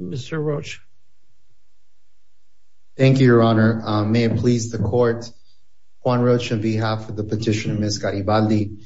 Mr. Roach. Thank you your honor. May it please the court. Juan Roach on behalf of the petitioner Ms. Garibaldi.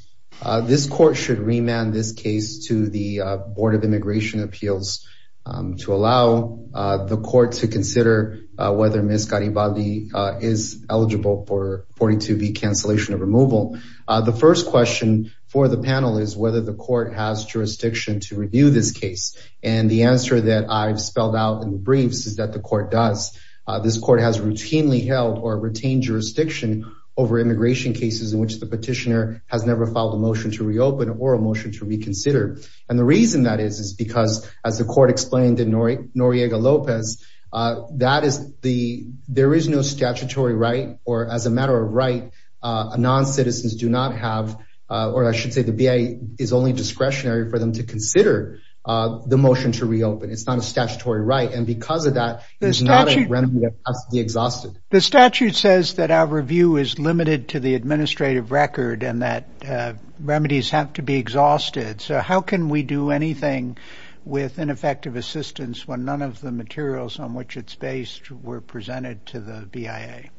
This court should remand this case to the Board of Immigration Appeals to allow the court to consider whether Ms. Garibaldi is eligible for 42B cancellation of removal. The first question for the panel is whether the court has jurisdiction to review this case. The answer that I've spelled out in the briefs is that the court does. This court has routinely held or retained jurisdiction over immigration cases in which the petitioner has never filed a motion to reopen or a motion to reconsider and the reason that is is because as the court explained in Noriega-Lopez that is the there is no statutory right or as a matter of right non-citizens do not have or I should say the BIA is only discretionary for them to consider the motion to reopen. It's not a statutory right and because of that it's not a remedy that has to be exhausted. The statute says that our review is limited to the administrative record and that remedies have to be exhausted so how can we do anything with ineffective assistance when none of the materials on which it's based were presented to the BIA?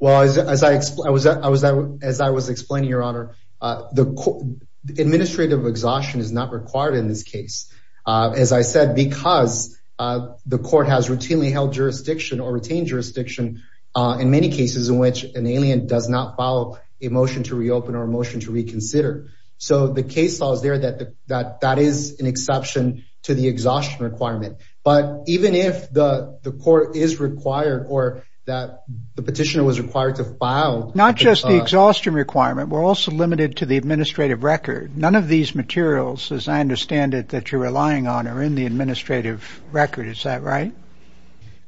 Well as I was as I was explaining your honor the administrative exhaustion is not required in this case as I said because the court has routinely held jurisdiction or retained jurisdiction in many cases in which an alien does not follow a motion to reopen or a motion to reconsider so the case law is there that that that is an exception to the exhaustion requirement but even if the the court is required or that the petitioner was required to file not just the exhaustion requirement we're also limited to the administrative record. None of these materials as I understand it that you're relying on are in the administrative record is that right?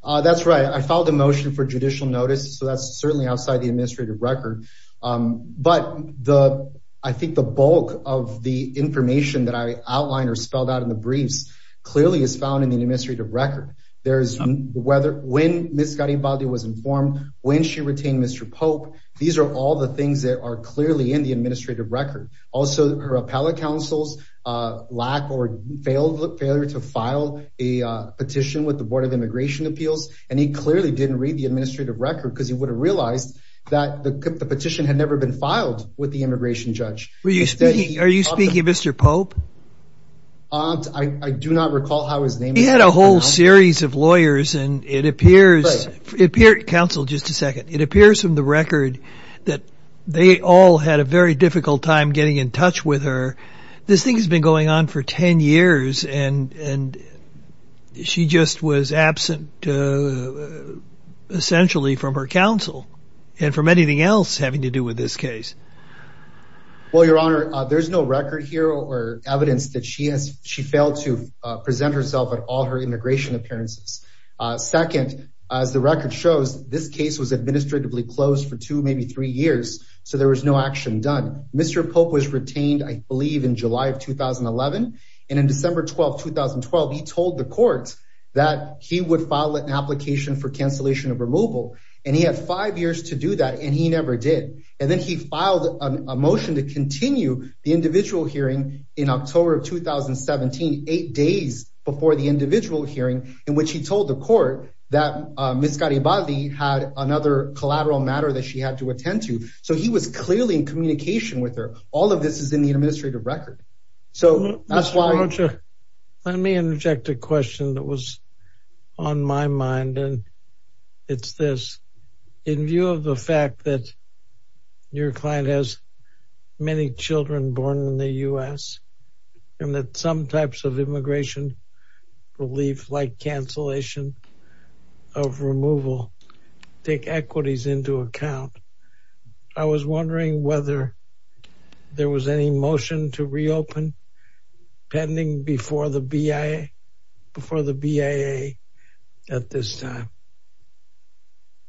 That's right I filed a motion for judicial notice so that's certainly outside the administrative record but the I think the bulk of the information that I outlined or spelled out in the briefs clearly is found in the administrative record. There's whether when Miss Garibaldi was informed when she retained Mr. Pope these are all the things that are clearly in the administrative record. Also her appellate counsel's lack or failed look failure to file a petition with the Board of Immigration Appeals and he clearly didn't read the administrative record because he would have realized that the petition had never been filed with the immigration judge. Are you speaking of Mr. Pope? I do not recall how his name... He had a whole series of lawyers and it appears, counsel just a second, it appears from the difficult time getting in touch with her this thing has been going on for 10 years and and she just was absent essentially from her counsel and from anything else having to do with this case. Well your honor there's no record here or evidence that she has she failed to present herself at all her immigration appearances. Second as the record shows this case was administratively closed for two maybe three years so there was no action done. Mr. Pope was retained I believe in July of 2011 and in December 12 2012 he told the court that he would file an application for cancellation of removal and he had five years to do that and he never did and then he filed a motion to continue the individual hearing in October of 2017 eight days before the individual hearing in which he told the court that Miss Garibaldi had another collateral matter that she had to attend to so he was clearly in communication with her. All of this is in the administrative record so that's why... Let me interject a question that was on my mind and it's this in view of the fact that your client has many children born in the U.S. and that some types of I was wondering whether there was any motion to reopen pending before the BIA before the BIA at this time.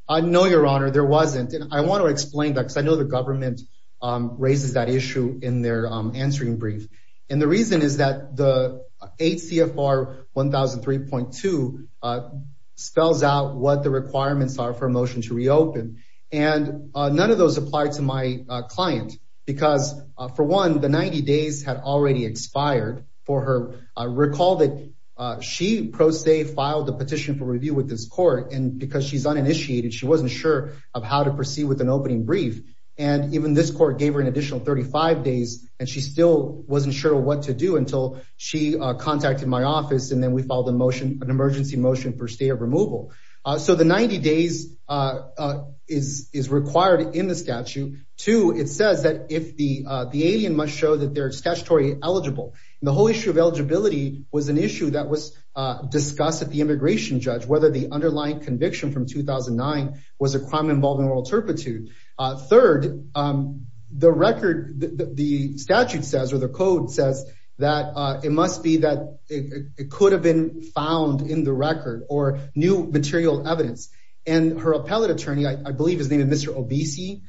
I know your honor there wasn't and I want to explain that because I know the government raises that issue in their answering brief and the reason is that the 8 CFR 1003.2 spells out what the requirements are for a motion to reopen and none of those apply to my client because for one the 90 days had already expired for her. I recall that she pro se filed a petition for review with this court and because she's uninitiated she wasn't sure of how to proceed with an opening brief and even this court gave her an additional 35 days and she still wasn't sure what to do until she contacted my office and then we filed a motion an emergency motion for stay of removal so the 90 days is is required in the statute. Two it says that if the the alien must show that they're statutory eligible the whole issue of eligibility was an issue that was discussed at the immigration judge whether the underlying conviction from 2009 was a crime involving oral turpitude. Third the record the statute says or the code says that it must be that it could have been found in the record or new material evidence and her appellate attorney I believe his name is Mr. Obese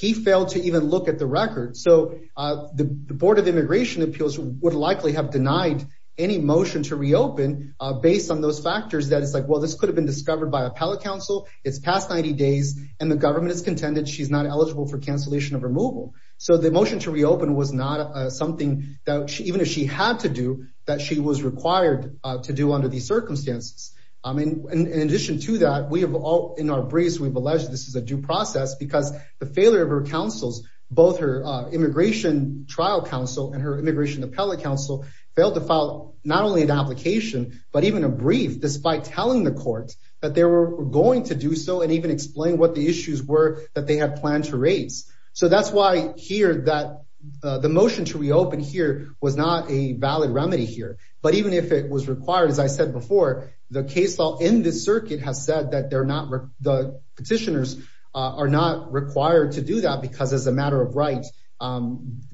he failed to even look at the record so the Board of Immigration Appeals would likely have denied any motion to reopen based on those factors that it's like well this could have been discovered by appellate counsel it's past 90 days and the government is contended she's not eligible for cancellation of removal so the motion to reopen was not something that she even if she had to do that she was required to do under these circumstances I mean in addition to that we have all in our briefs we've alleged this is a due process because the failure of her counsel's both her immigration trial counsel and her immigration appellate counsel failed to file not only an application but even a brief despite telling the court that they were going to do so and even explain what the issues were that they have planned to raise so that's why here that the motion to reopen here was not a valid remedy here but even if it was required as I said before the case law in this circuit has said that they're not the petitioners are not required to do that because as a matter of right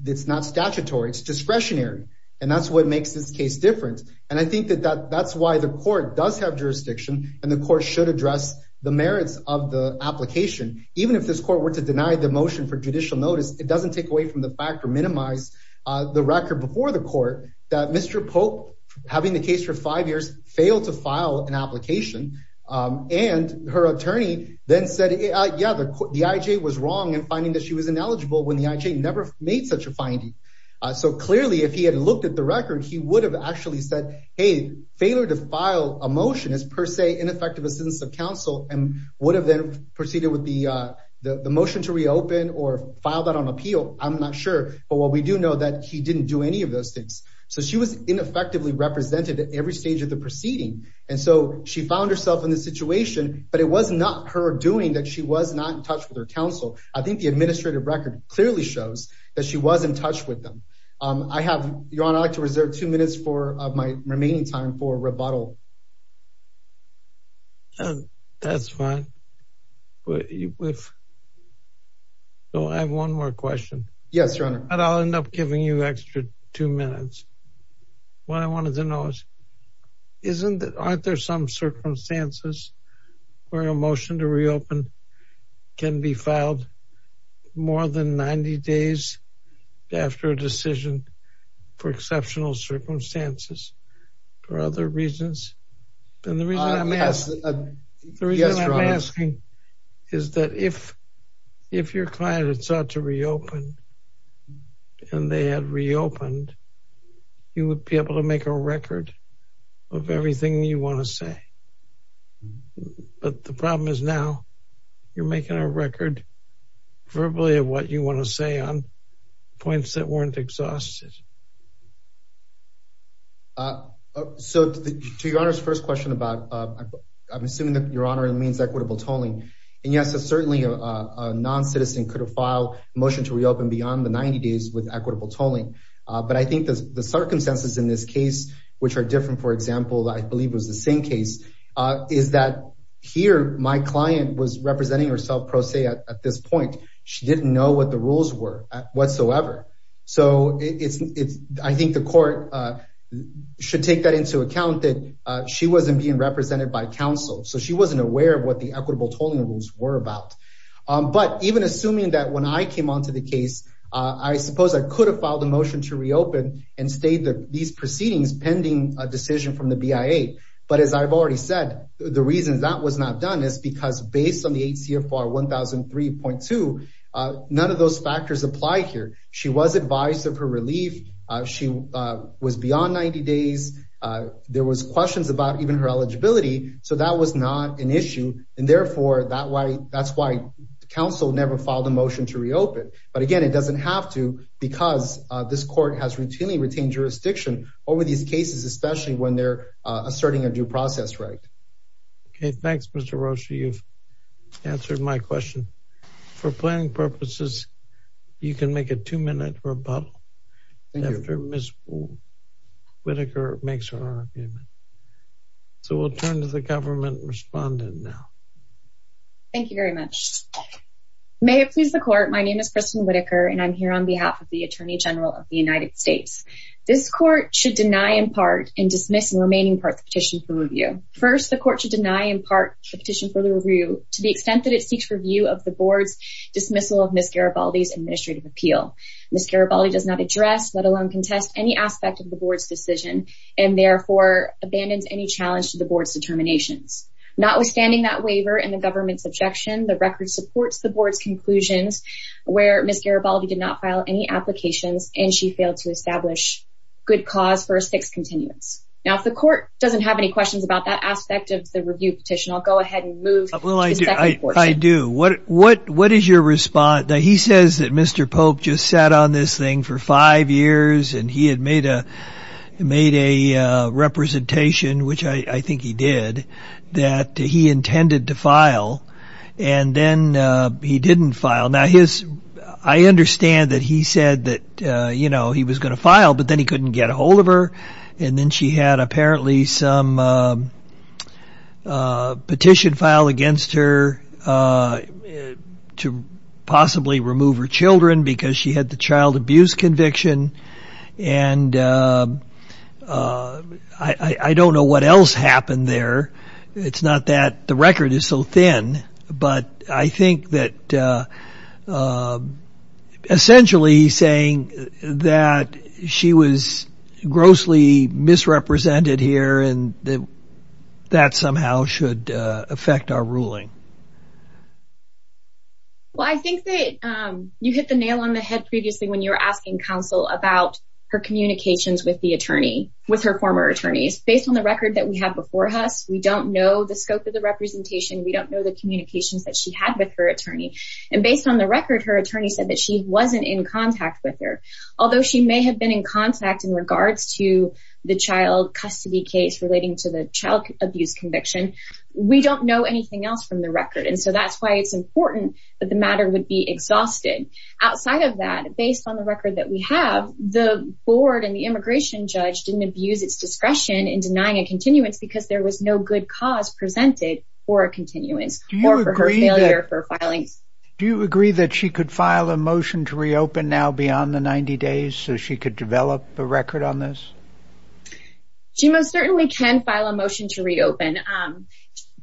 it's not statutory it's discretionary and that's what makes this case different and I think that that that's why the court does have jurisdiction and the court should address the merits of the application even if this court were to deny the motion for judicial notice it doesn't take away from the fact or minimize the record before the court that mr. Pope having the case for five years failed to file an application and her attorney then said yeah the IJ was wrong and finding that she was ineligible when the IJ never made such a finding so clearly if he had looked at the record he would have actually said hey failure to file a counsel and would have then proceeded with the the motion to reopen or file that on appeal I'm not sure but what we do know that he didn't do any of those things so she was ineffectively represented at every stage of the proceeding and so she found herself in this situation but it was not her doing that she was not in touch with her counsel I think the administrative record clearly shows that she was in touch with them I have your honor to that's fine but if so I have one more question yes your honor and I'll end up giving you extra two minutes what I wanted to know is isn't that aren't there some circumstances where a motion to reopen can be filed more than 90 days after a decision for exceptional circumstances or other reasons then the reason I'm asking is that if if your client had sought to reopen and they had reopened you would be able to make a record of everything you want to say but the problem is now you're making a record verbally of what you want to question about I'm assuming that your honor it means equitable tolling and yes it's certainly a non-citizen could have filed motion to reopen beyond the 90 days with equitable tolling but I think the circumstances in this case which are different for example I believe was the same case is that here my client was representing herself pro se at this point she didn't know what the rules were whatsoever so it's it's I think the court should take that into account that she wasn't being represented by counsel so she wasn't aware of what the equitable tolling rules were about but even assuming that when I came on to the case I suppose I could have filed a motion to reopen and state that these proceedings pending a decision from the BIA but as I've already said the reasons that was not done is because based on the ACFR 1003.2 none of those factors apply here she was advised of her relief she was beyond 90 days there was questions about even her eligibility so that was not an issue and therefore that way that's why the council never filed a motion to reopen but again it doesn't have to because this court has routinely retained jurisdiction over these cases especially when they're asserting a due process right okay thanks mr. Roshi you've answered my question for planning purposes you can make a two minute rebuttal after miss Whitaker makes her argument so we'll turn to the government respondent now thank you very much may it please the court my name is Kristen Whitaker and I'm here on behalf of the Attorney General of the United States this court should deny in part in dismissing remaining part petition for review to the extent that it seeks review of the board's dismissal of miss Garibaldi's administrative appeal miss Garibaldi does not address let alone contest any aspect of the board's decision and therefore abandons any challenge to the board's determinations notwithstanding that waiver and the government's objection the record supports the board's conclusions where miss Garibaldi did not file any applications and she failed to establish good cause for a six continuance now if the court doesn't have any questions about that aspect of the review petition I'll go ahead and I do what what what is your response now he says that mr. Pope just sat on this thing for five years and he had made a made a representation which I think he did that he intended to file and then he didn't file now his I understand that he said that you know he was going to file but then he couldn't get a hold of her and then she had apparently some petition file against her to possibly remove her children because she had the child abuse conviction and I I don't know what else happened there it's not that the record is so thin but I think that essentially saying that she was grossly misrepresented here and that somehow should affect our ruling well I think that you hit the nail on the head previously when you're asking counsel about her communications with the attorney with her former attorneys based on the record that we have before us we don't know the scope of the representation we don't know the attorney and based on the record her attorney said that she wasn't in contact with her although she may have been in contact in regards to the child custody case relating to the child abuse conviction we don't know anything else from the record and so that's why it's important that the matter would be exhausted outside of that based on the record that we have the board and the immigration judge didn't abuse its discretion in denying a continuance because there was no good cause presented for a continuance more for her do you agree that she could file a motion to reopen now beyond the 90 days so she could develop a record on this she most certainly can file a motion to reopen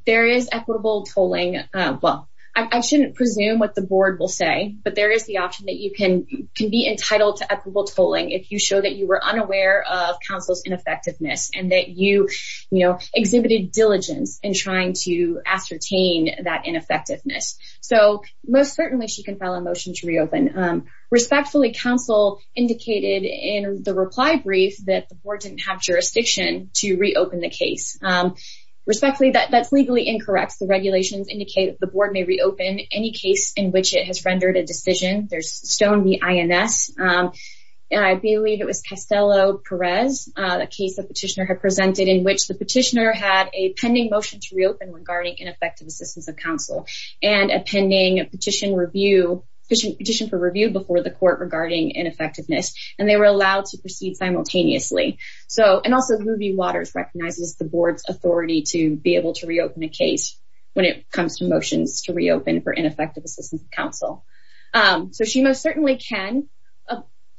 there is equitable tolling well I shouldn't presume what the board will say but there is the option that you can can be entitled to equitable tolling if you show that you were unaware of counsel's ineffectiveness and that you exhibited diligence in trying to ascertain that ineffectiveness so most certainly she can file a motion to reopen respectfully counsel indicated in the reply brief that the board didn't have jurisdiction to reopen the case respectfully that that's legally incorrect the regulations indicated the board may reopen any case in which it has rendered a decision there's stone the INS and I believe it was Castello Perez a case the petitioner had the petitioner had a pending motion to reopen regarding ineffective assistance of counsel and a pending petition review petition for review before the court regarding ineffectiveness and they were allowed to proceed simultaneously so and also the movie waters recognizes the board's authority to be able to reopen a case when it comes to motions to reopen for ineffective assistance of counsel so she most certainly can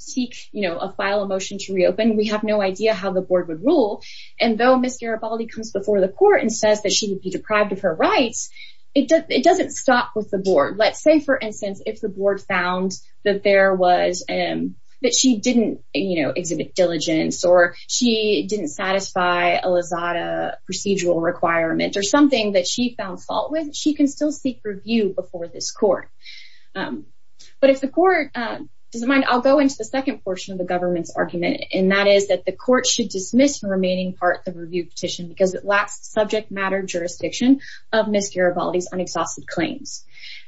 seek you know a file a motion to reopen we have no idea how the board would rule and though miss Garibaldi comes before the court and says that she would be deprived of her rights it does it doesn't stop with the board let's say for instance if the board found that there was and that she didn't you know exhibit diligence or she didn't satisfy a lazada procedural requirement or something that she found fault with she can still seek review before this court but if the court doesn't mind I'll go into the second portion of the government's argument and that is that the court should dismiss the remaining part the review petition because it lacks subject matter jurisdiction of Miss Garibaldi's unexhausted claims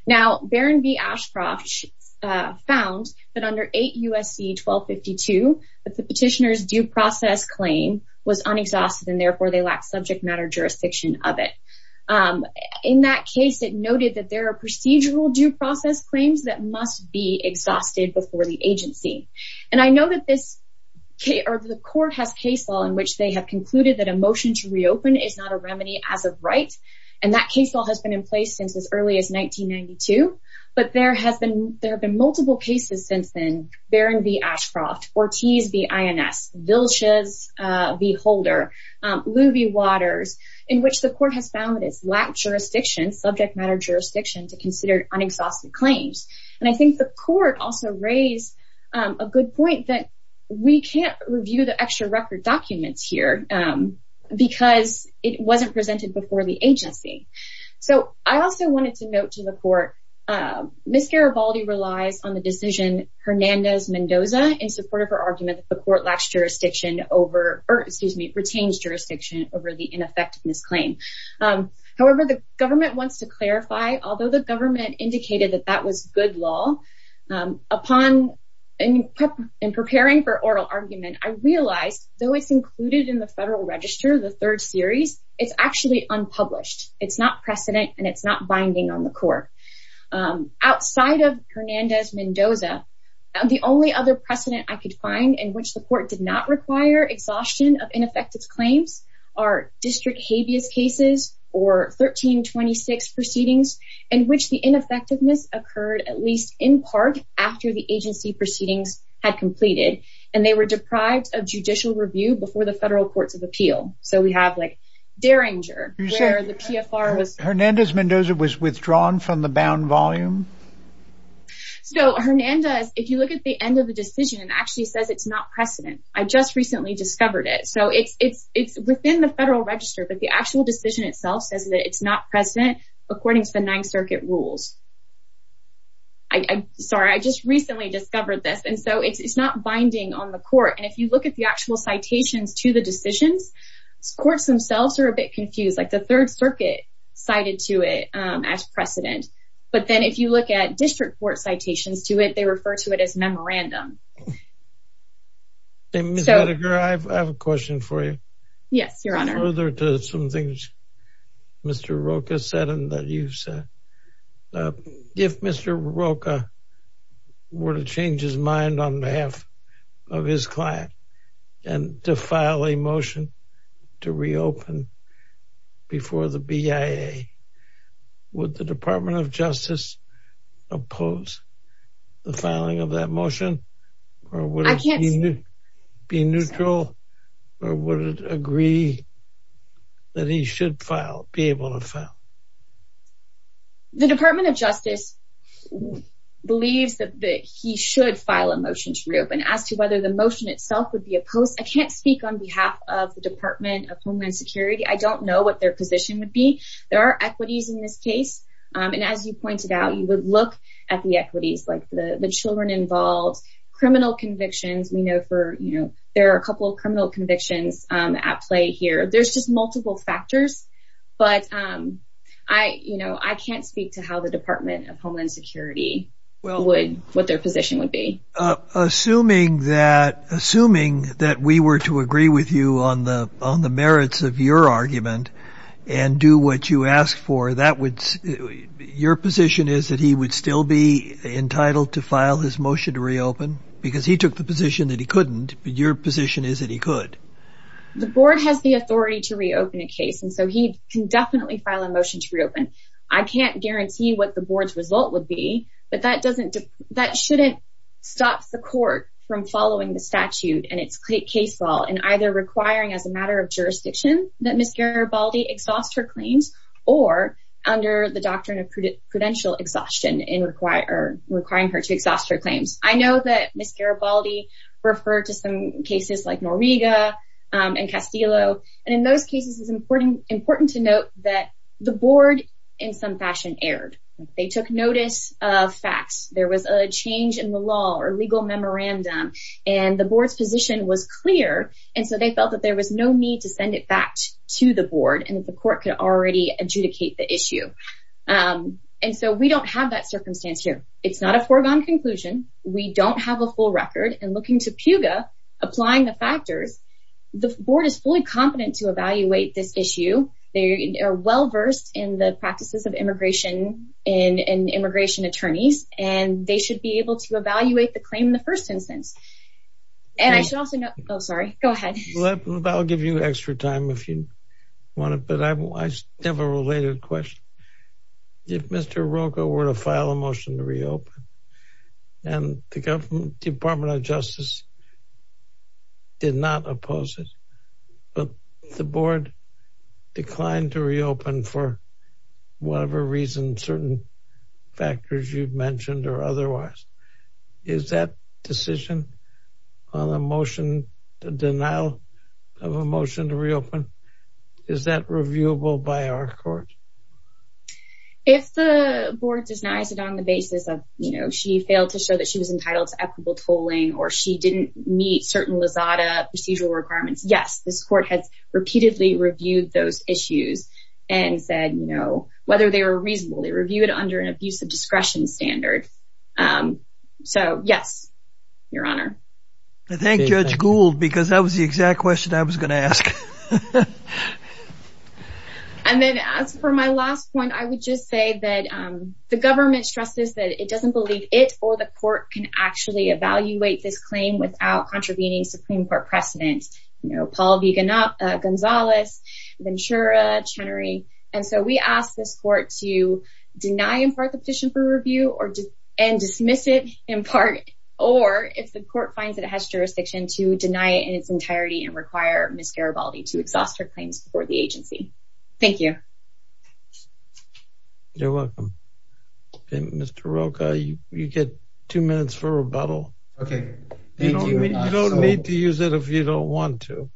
now Baron B Ashcroft found that under 8 USC 1252 that the petitioners due process claim was unexhausted and therefore they lack subject matter jurisdiction of it in that case it noted that there are procedural due process claims that must be exhausted before the agency and I know that this okay or the court has case law in which they have concluded that a motion to reopen is not a remedy as of right and that case law has been in place since as early as 1992 but there has been there have been multiple cases since then Baron B Ashcroft Ortiz B INS Vilches B Holder Luvy Waters in which the court has found that it's lacked jurisdiction subject matter jurisdiction to consider unexhausted claims and I think the court also raised a good point that we can't review the extra record documents here because it wasn't presented before the agency so I also wanted to note to the court Miss Garibaldi relies on the decision Hernandez Mendoza in support of her argument the court lacks jurisdiction over or excuse me retains jurisdiction over the ineffectiveness claim however the government wants to clarify although the government indicated that that was good law upon in preparing for oral argument I realized though it's included in the Federal Register the third series it's actually unpublished it's not precedent and it's not binding on the court outside of Hernandez Mendoza and the only other precedent I could find in which the cases or 1326 proceedings in which the ineffectiveness occurred at least in part after the agency proceedings had completed and they were deprived of judicial review before the federal courts of appeal so we have like Derringer Hernandez Mendoza was withdrawn from the bound volume so Hernandez if you look at the end of the decision and actually says it's not precedent I just recently discovered it so it's it's it's within the Federal Register but the actual decision itself says that it's not precedent according to the Ninth Circuit rules I'm sorry I just recently discovered this and so it's not binding on the court and if you look at the actual citations to the decisions courts themselves are a bit confused like the Third Circuit cited to it as precedent but then if you look at district court citations to it they have a question for you yes your honor there to some things mr. Roka said and that you said if mr. Roka were to change his mind on behalf of his client and to file a motion to reopen before the BIA would the Department of Justice oppose the filing of that motion or would it be neutral or would it agree that he should file be able to file the Department of Justice believes that he should file a motion to reopen as to whether the motion itself would be opposed I can't speak on behalf of the Department of Homeland Security I don't know what their position would be there are equities in this case and as you pointed out you would look at the equities like the the children involved criminal convictions we know for you know there are a couple of criminal convictions at play here there's just multiple factors but I you know I can't speak to how the Department of Homeland Security well would what their position would be assuming that assuming that we were to agree with you on the on the that he would still be entitled to file his motion to reopen because he took the position that he couldn't but your position is that he could the board has the authority to reopen a case and so he can definitely file a motion to reopen I can't guarantee what the board's result would be but that doesn't that shouldn't stop the court from following the statute and it's click baseball and either requiring as a matter of jurisdiction that miss Garibaldi exhaust her claims or under the doctrine of prudential exhaustion in require requiring her to exhaust her claims I know that miss Garibaldi refer to some cases like Noriega and Castillo and in those cases is important important to note that the board in some fashion erred they took notice of facts there was a change in the law or legal memorandum and the board's position was clear and so they felt that there was no need to send it back to the board and the court could already adjudicate the issue and so we don't have that circumstance here it's not a foregone conclusion we don't have a full record and looking to Puga applying the factors the board is fully competent to evaluate this issue they are well versed in the practices of immigration in an immigration attorneys and they should be able to evaluate the claim in the first instance and I should also know oh sorry go ahead I'll give you extra time if you want it but I have a related question if mr. Roco were to file a motion to reopen and the government Department of Justice did not oppose it but the board declined to reopen for whatever reason certain factors you've mentioned or is that reviewable by our court if the board denies it on the basis of you know she failed to show that she was entitled to equitable tolling or she didn't meet certain lazada procedural requirements yes this court has repeatedly reviewed those issues and said you know whether they were reasonably reviewed under an abuse of discretion standard so yes your honor I think judge Gould because that was the exact question I was gonna ask and then as for my last one I would just say that the government stresses that it doesn't believe it or the court can actually evaluate this claim without contravening Supreme Court precedent you know Paul vegan up Gonzales Ventura Chenery and so we ask this court to deny in part the petition for review or just and dismiss it in part or if the court finds that it has jurisdiction to deny in its entirety and require miss Garibaldi to exhaust her claims before the agency thank you you're welcome mr. Roca you get two minutes for rebuttal okay you don't need to use it if you don't want to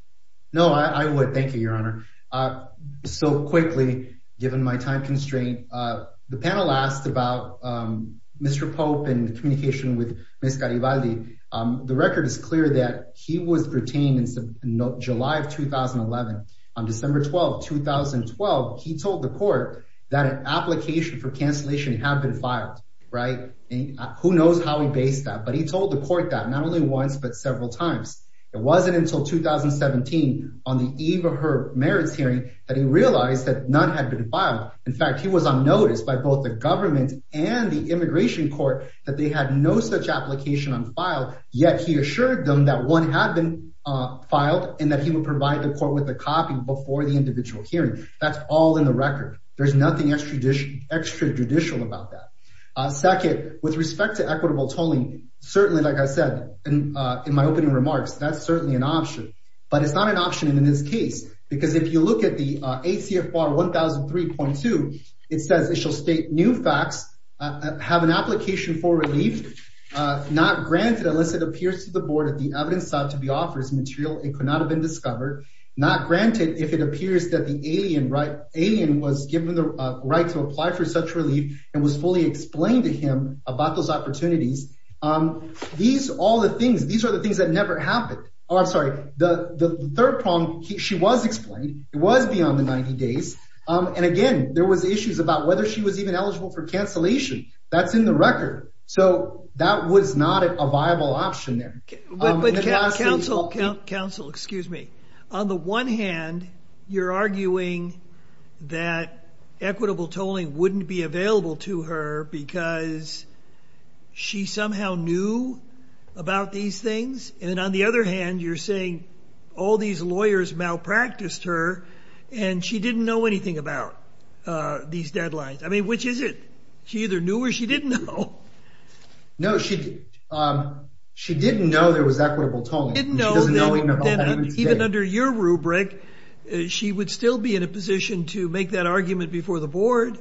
no I would thank you your honor so quickly given my time constraint the panel asked about mr. Pope and communication with miss Garibaldi the record is clear that he was retained in July of 2011 on December 12 2012 he told the court that an application for cancellation had been filed right who knows how he based that but he told the court that not only once but several times it wasn't until 2017 on the eve of her merits hearing that he realized that none had been filed in fact he was unnoticed by both the and the immigration court that they had no such application on file yet he assured them that one had been filed and that he would provide the court with a copy before the individual hearing that's all in the record there's nothing extra dish extra judicial about that second with respect to equitable tolling certainly like I said and in my opening remarks that's certainly an option but it's not an option in this case because if you look at the ACF bar 1003.2 it says it shall state new facts have an application for relief not granted unless it appears to the board at the evidence side to be offers material it could not have been discovered not granted if it appears that the alien right alien was given the right to apply for such relief and was fully explained to him about those opportunities um these all the things these are the things that never happened oh I'm sorry the third prong she was it was beyond the 90 days and again there was issues about whether she was even eligible for cancellation that's in the record so that was not a viable option there counsel counsel excuse me on the one hand you're arguing that equitable tolling wouldn't be available to her because she somehow knew about these things and on the other hand you're saying all these lawyers malpracticed her and she didn't know anything about these deadlines I mean which is it she either knew or she didn't know no she she didn't know there was equitable tolling didn't know even under your rubric she would still be in a position to make that argument before the board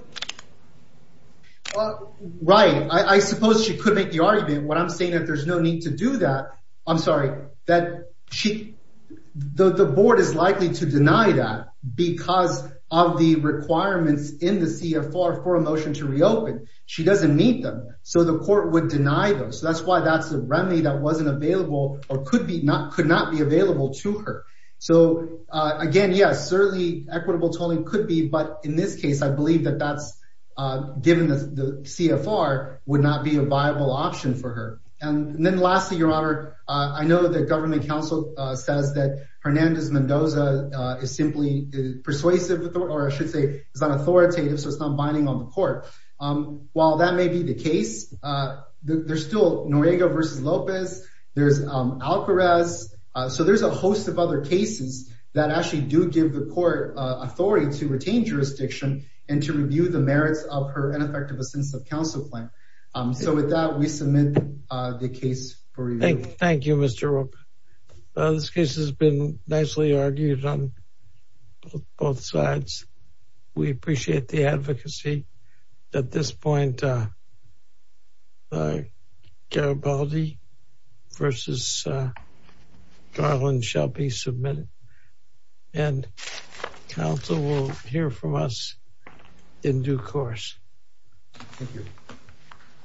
right I suppose she could make the argument what I'm saying that there's no need to do that I'm sorry that she the board is likely to deny that because of the requirements in the CFR for a motion to reopen she doesn't meet them so the court would deny them so that's why that's the remedy that wasn't available or could be not could not be available to her so again yes certainly equitable tolling could be but in this case I believe that that's given the CFR would not be a viable option for her and then lastly your honor I know that government counsel says that Hernandez Mendoza is simply persuasive or I should say is not authoritative so it's not binding on the court while that may be the case there's still Noriega versus Lopez there's Alvarez so there's a host of other cases that actually do give the court authority to retain jurisdiction and to review the merits of effective a sense of counsel plan so with that we submit the case thank you mr. Roper this case has been nicely argued on both sides we appreciate the advocacy at this point Garibaldi versus Garland shall be submitted and counsel will hear from us in due course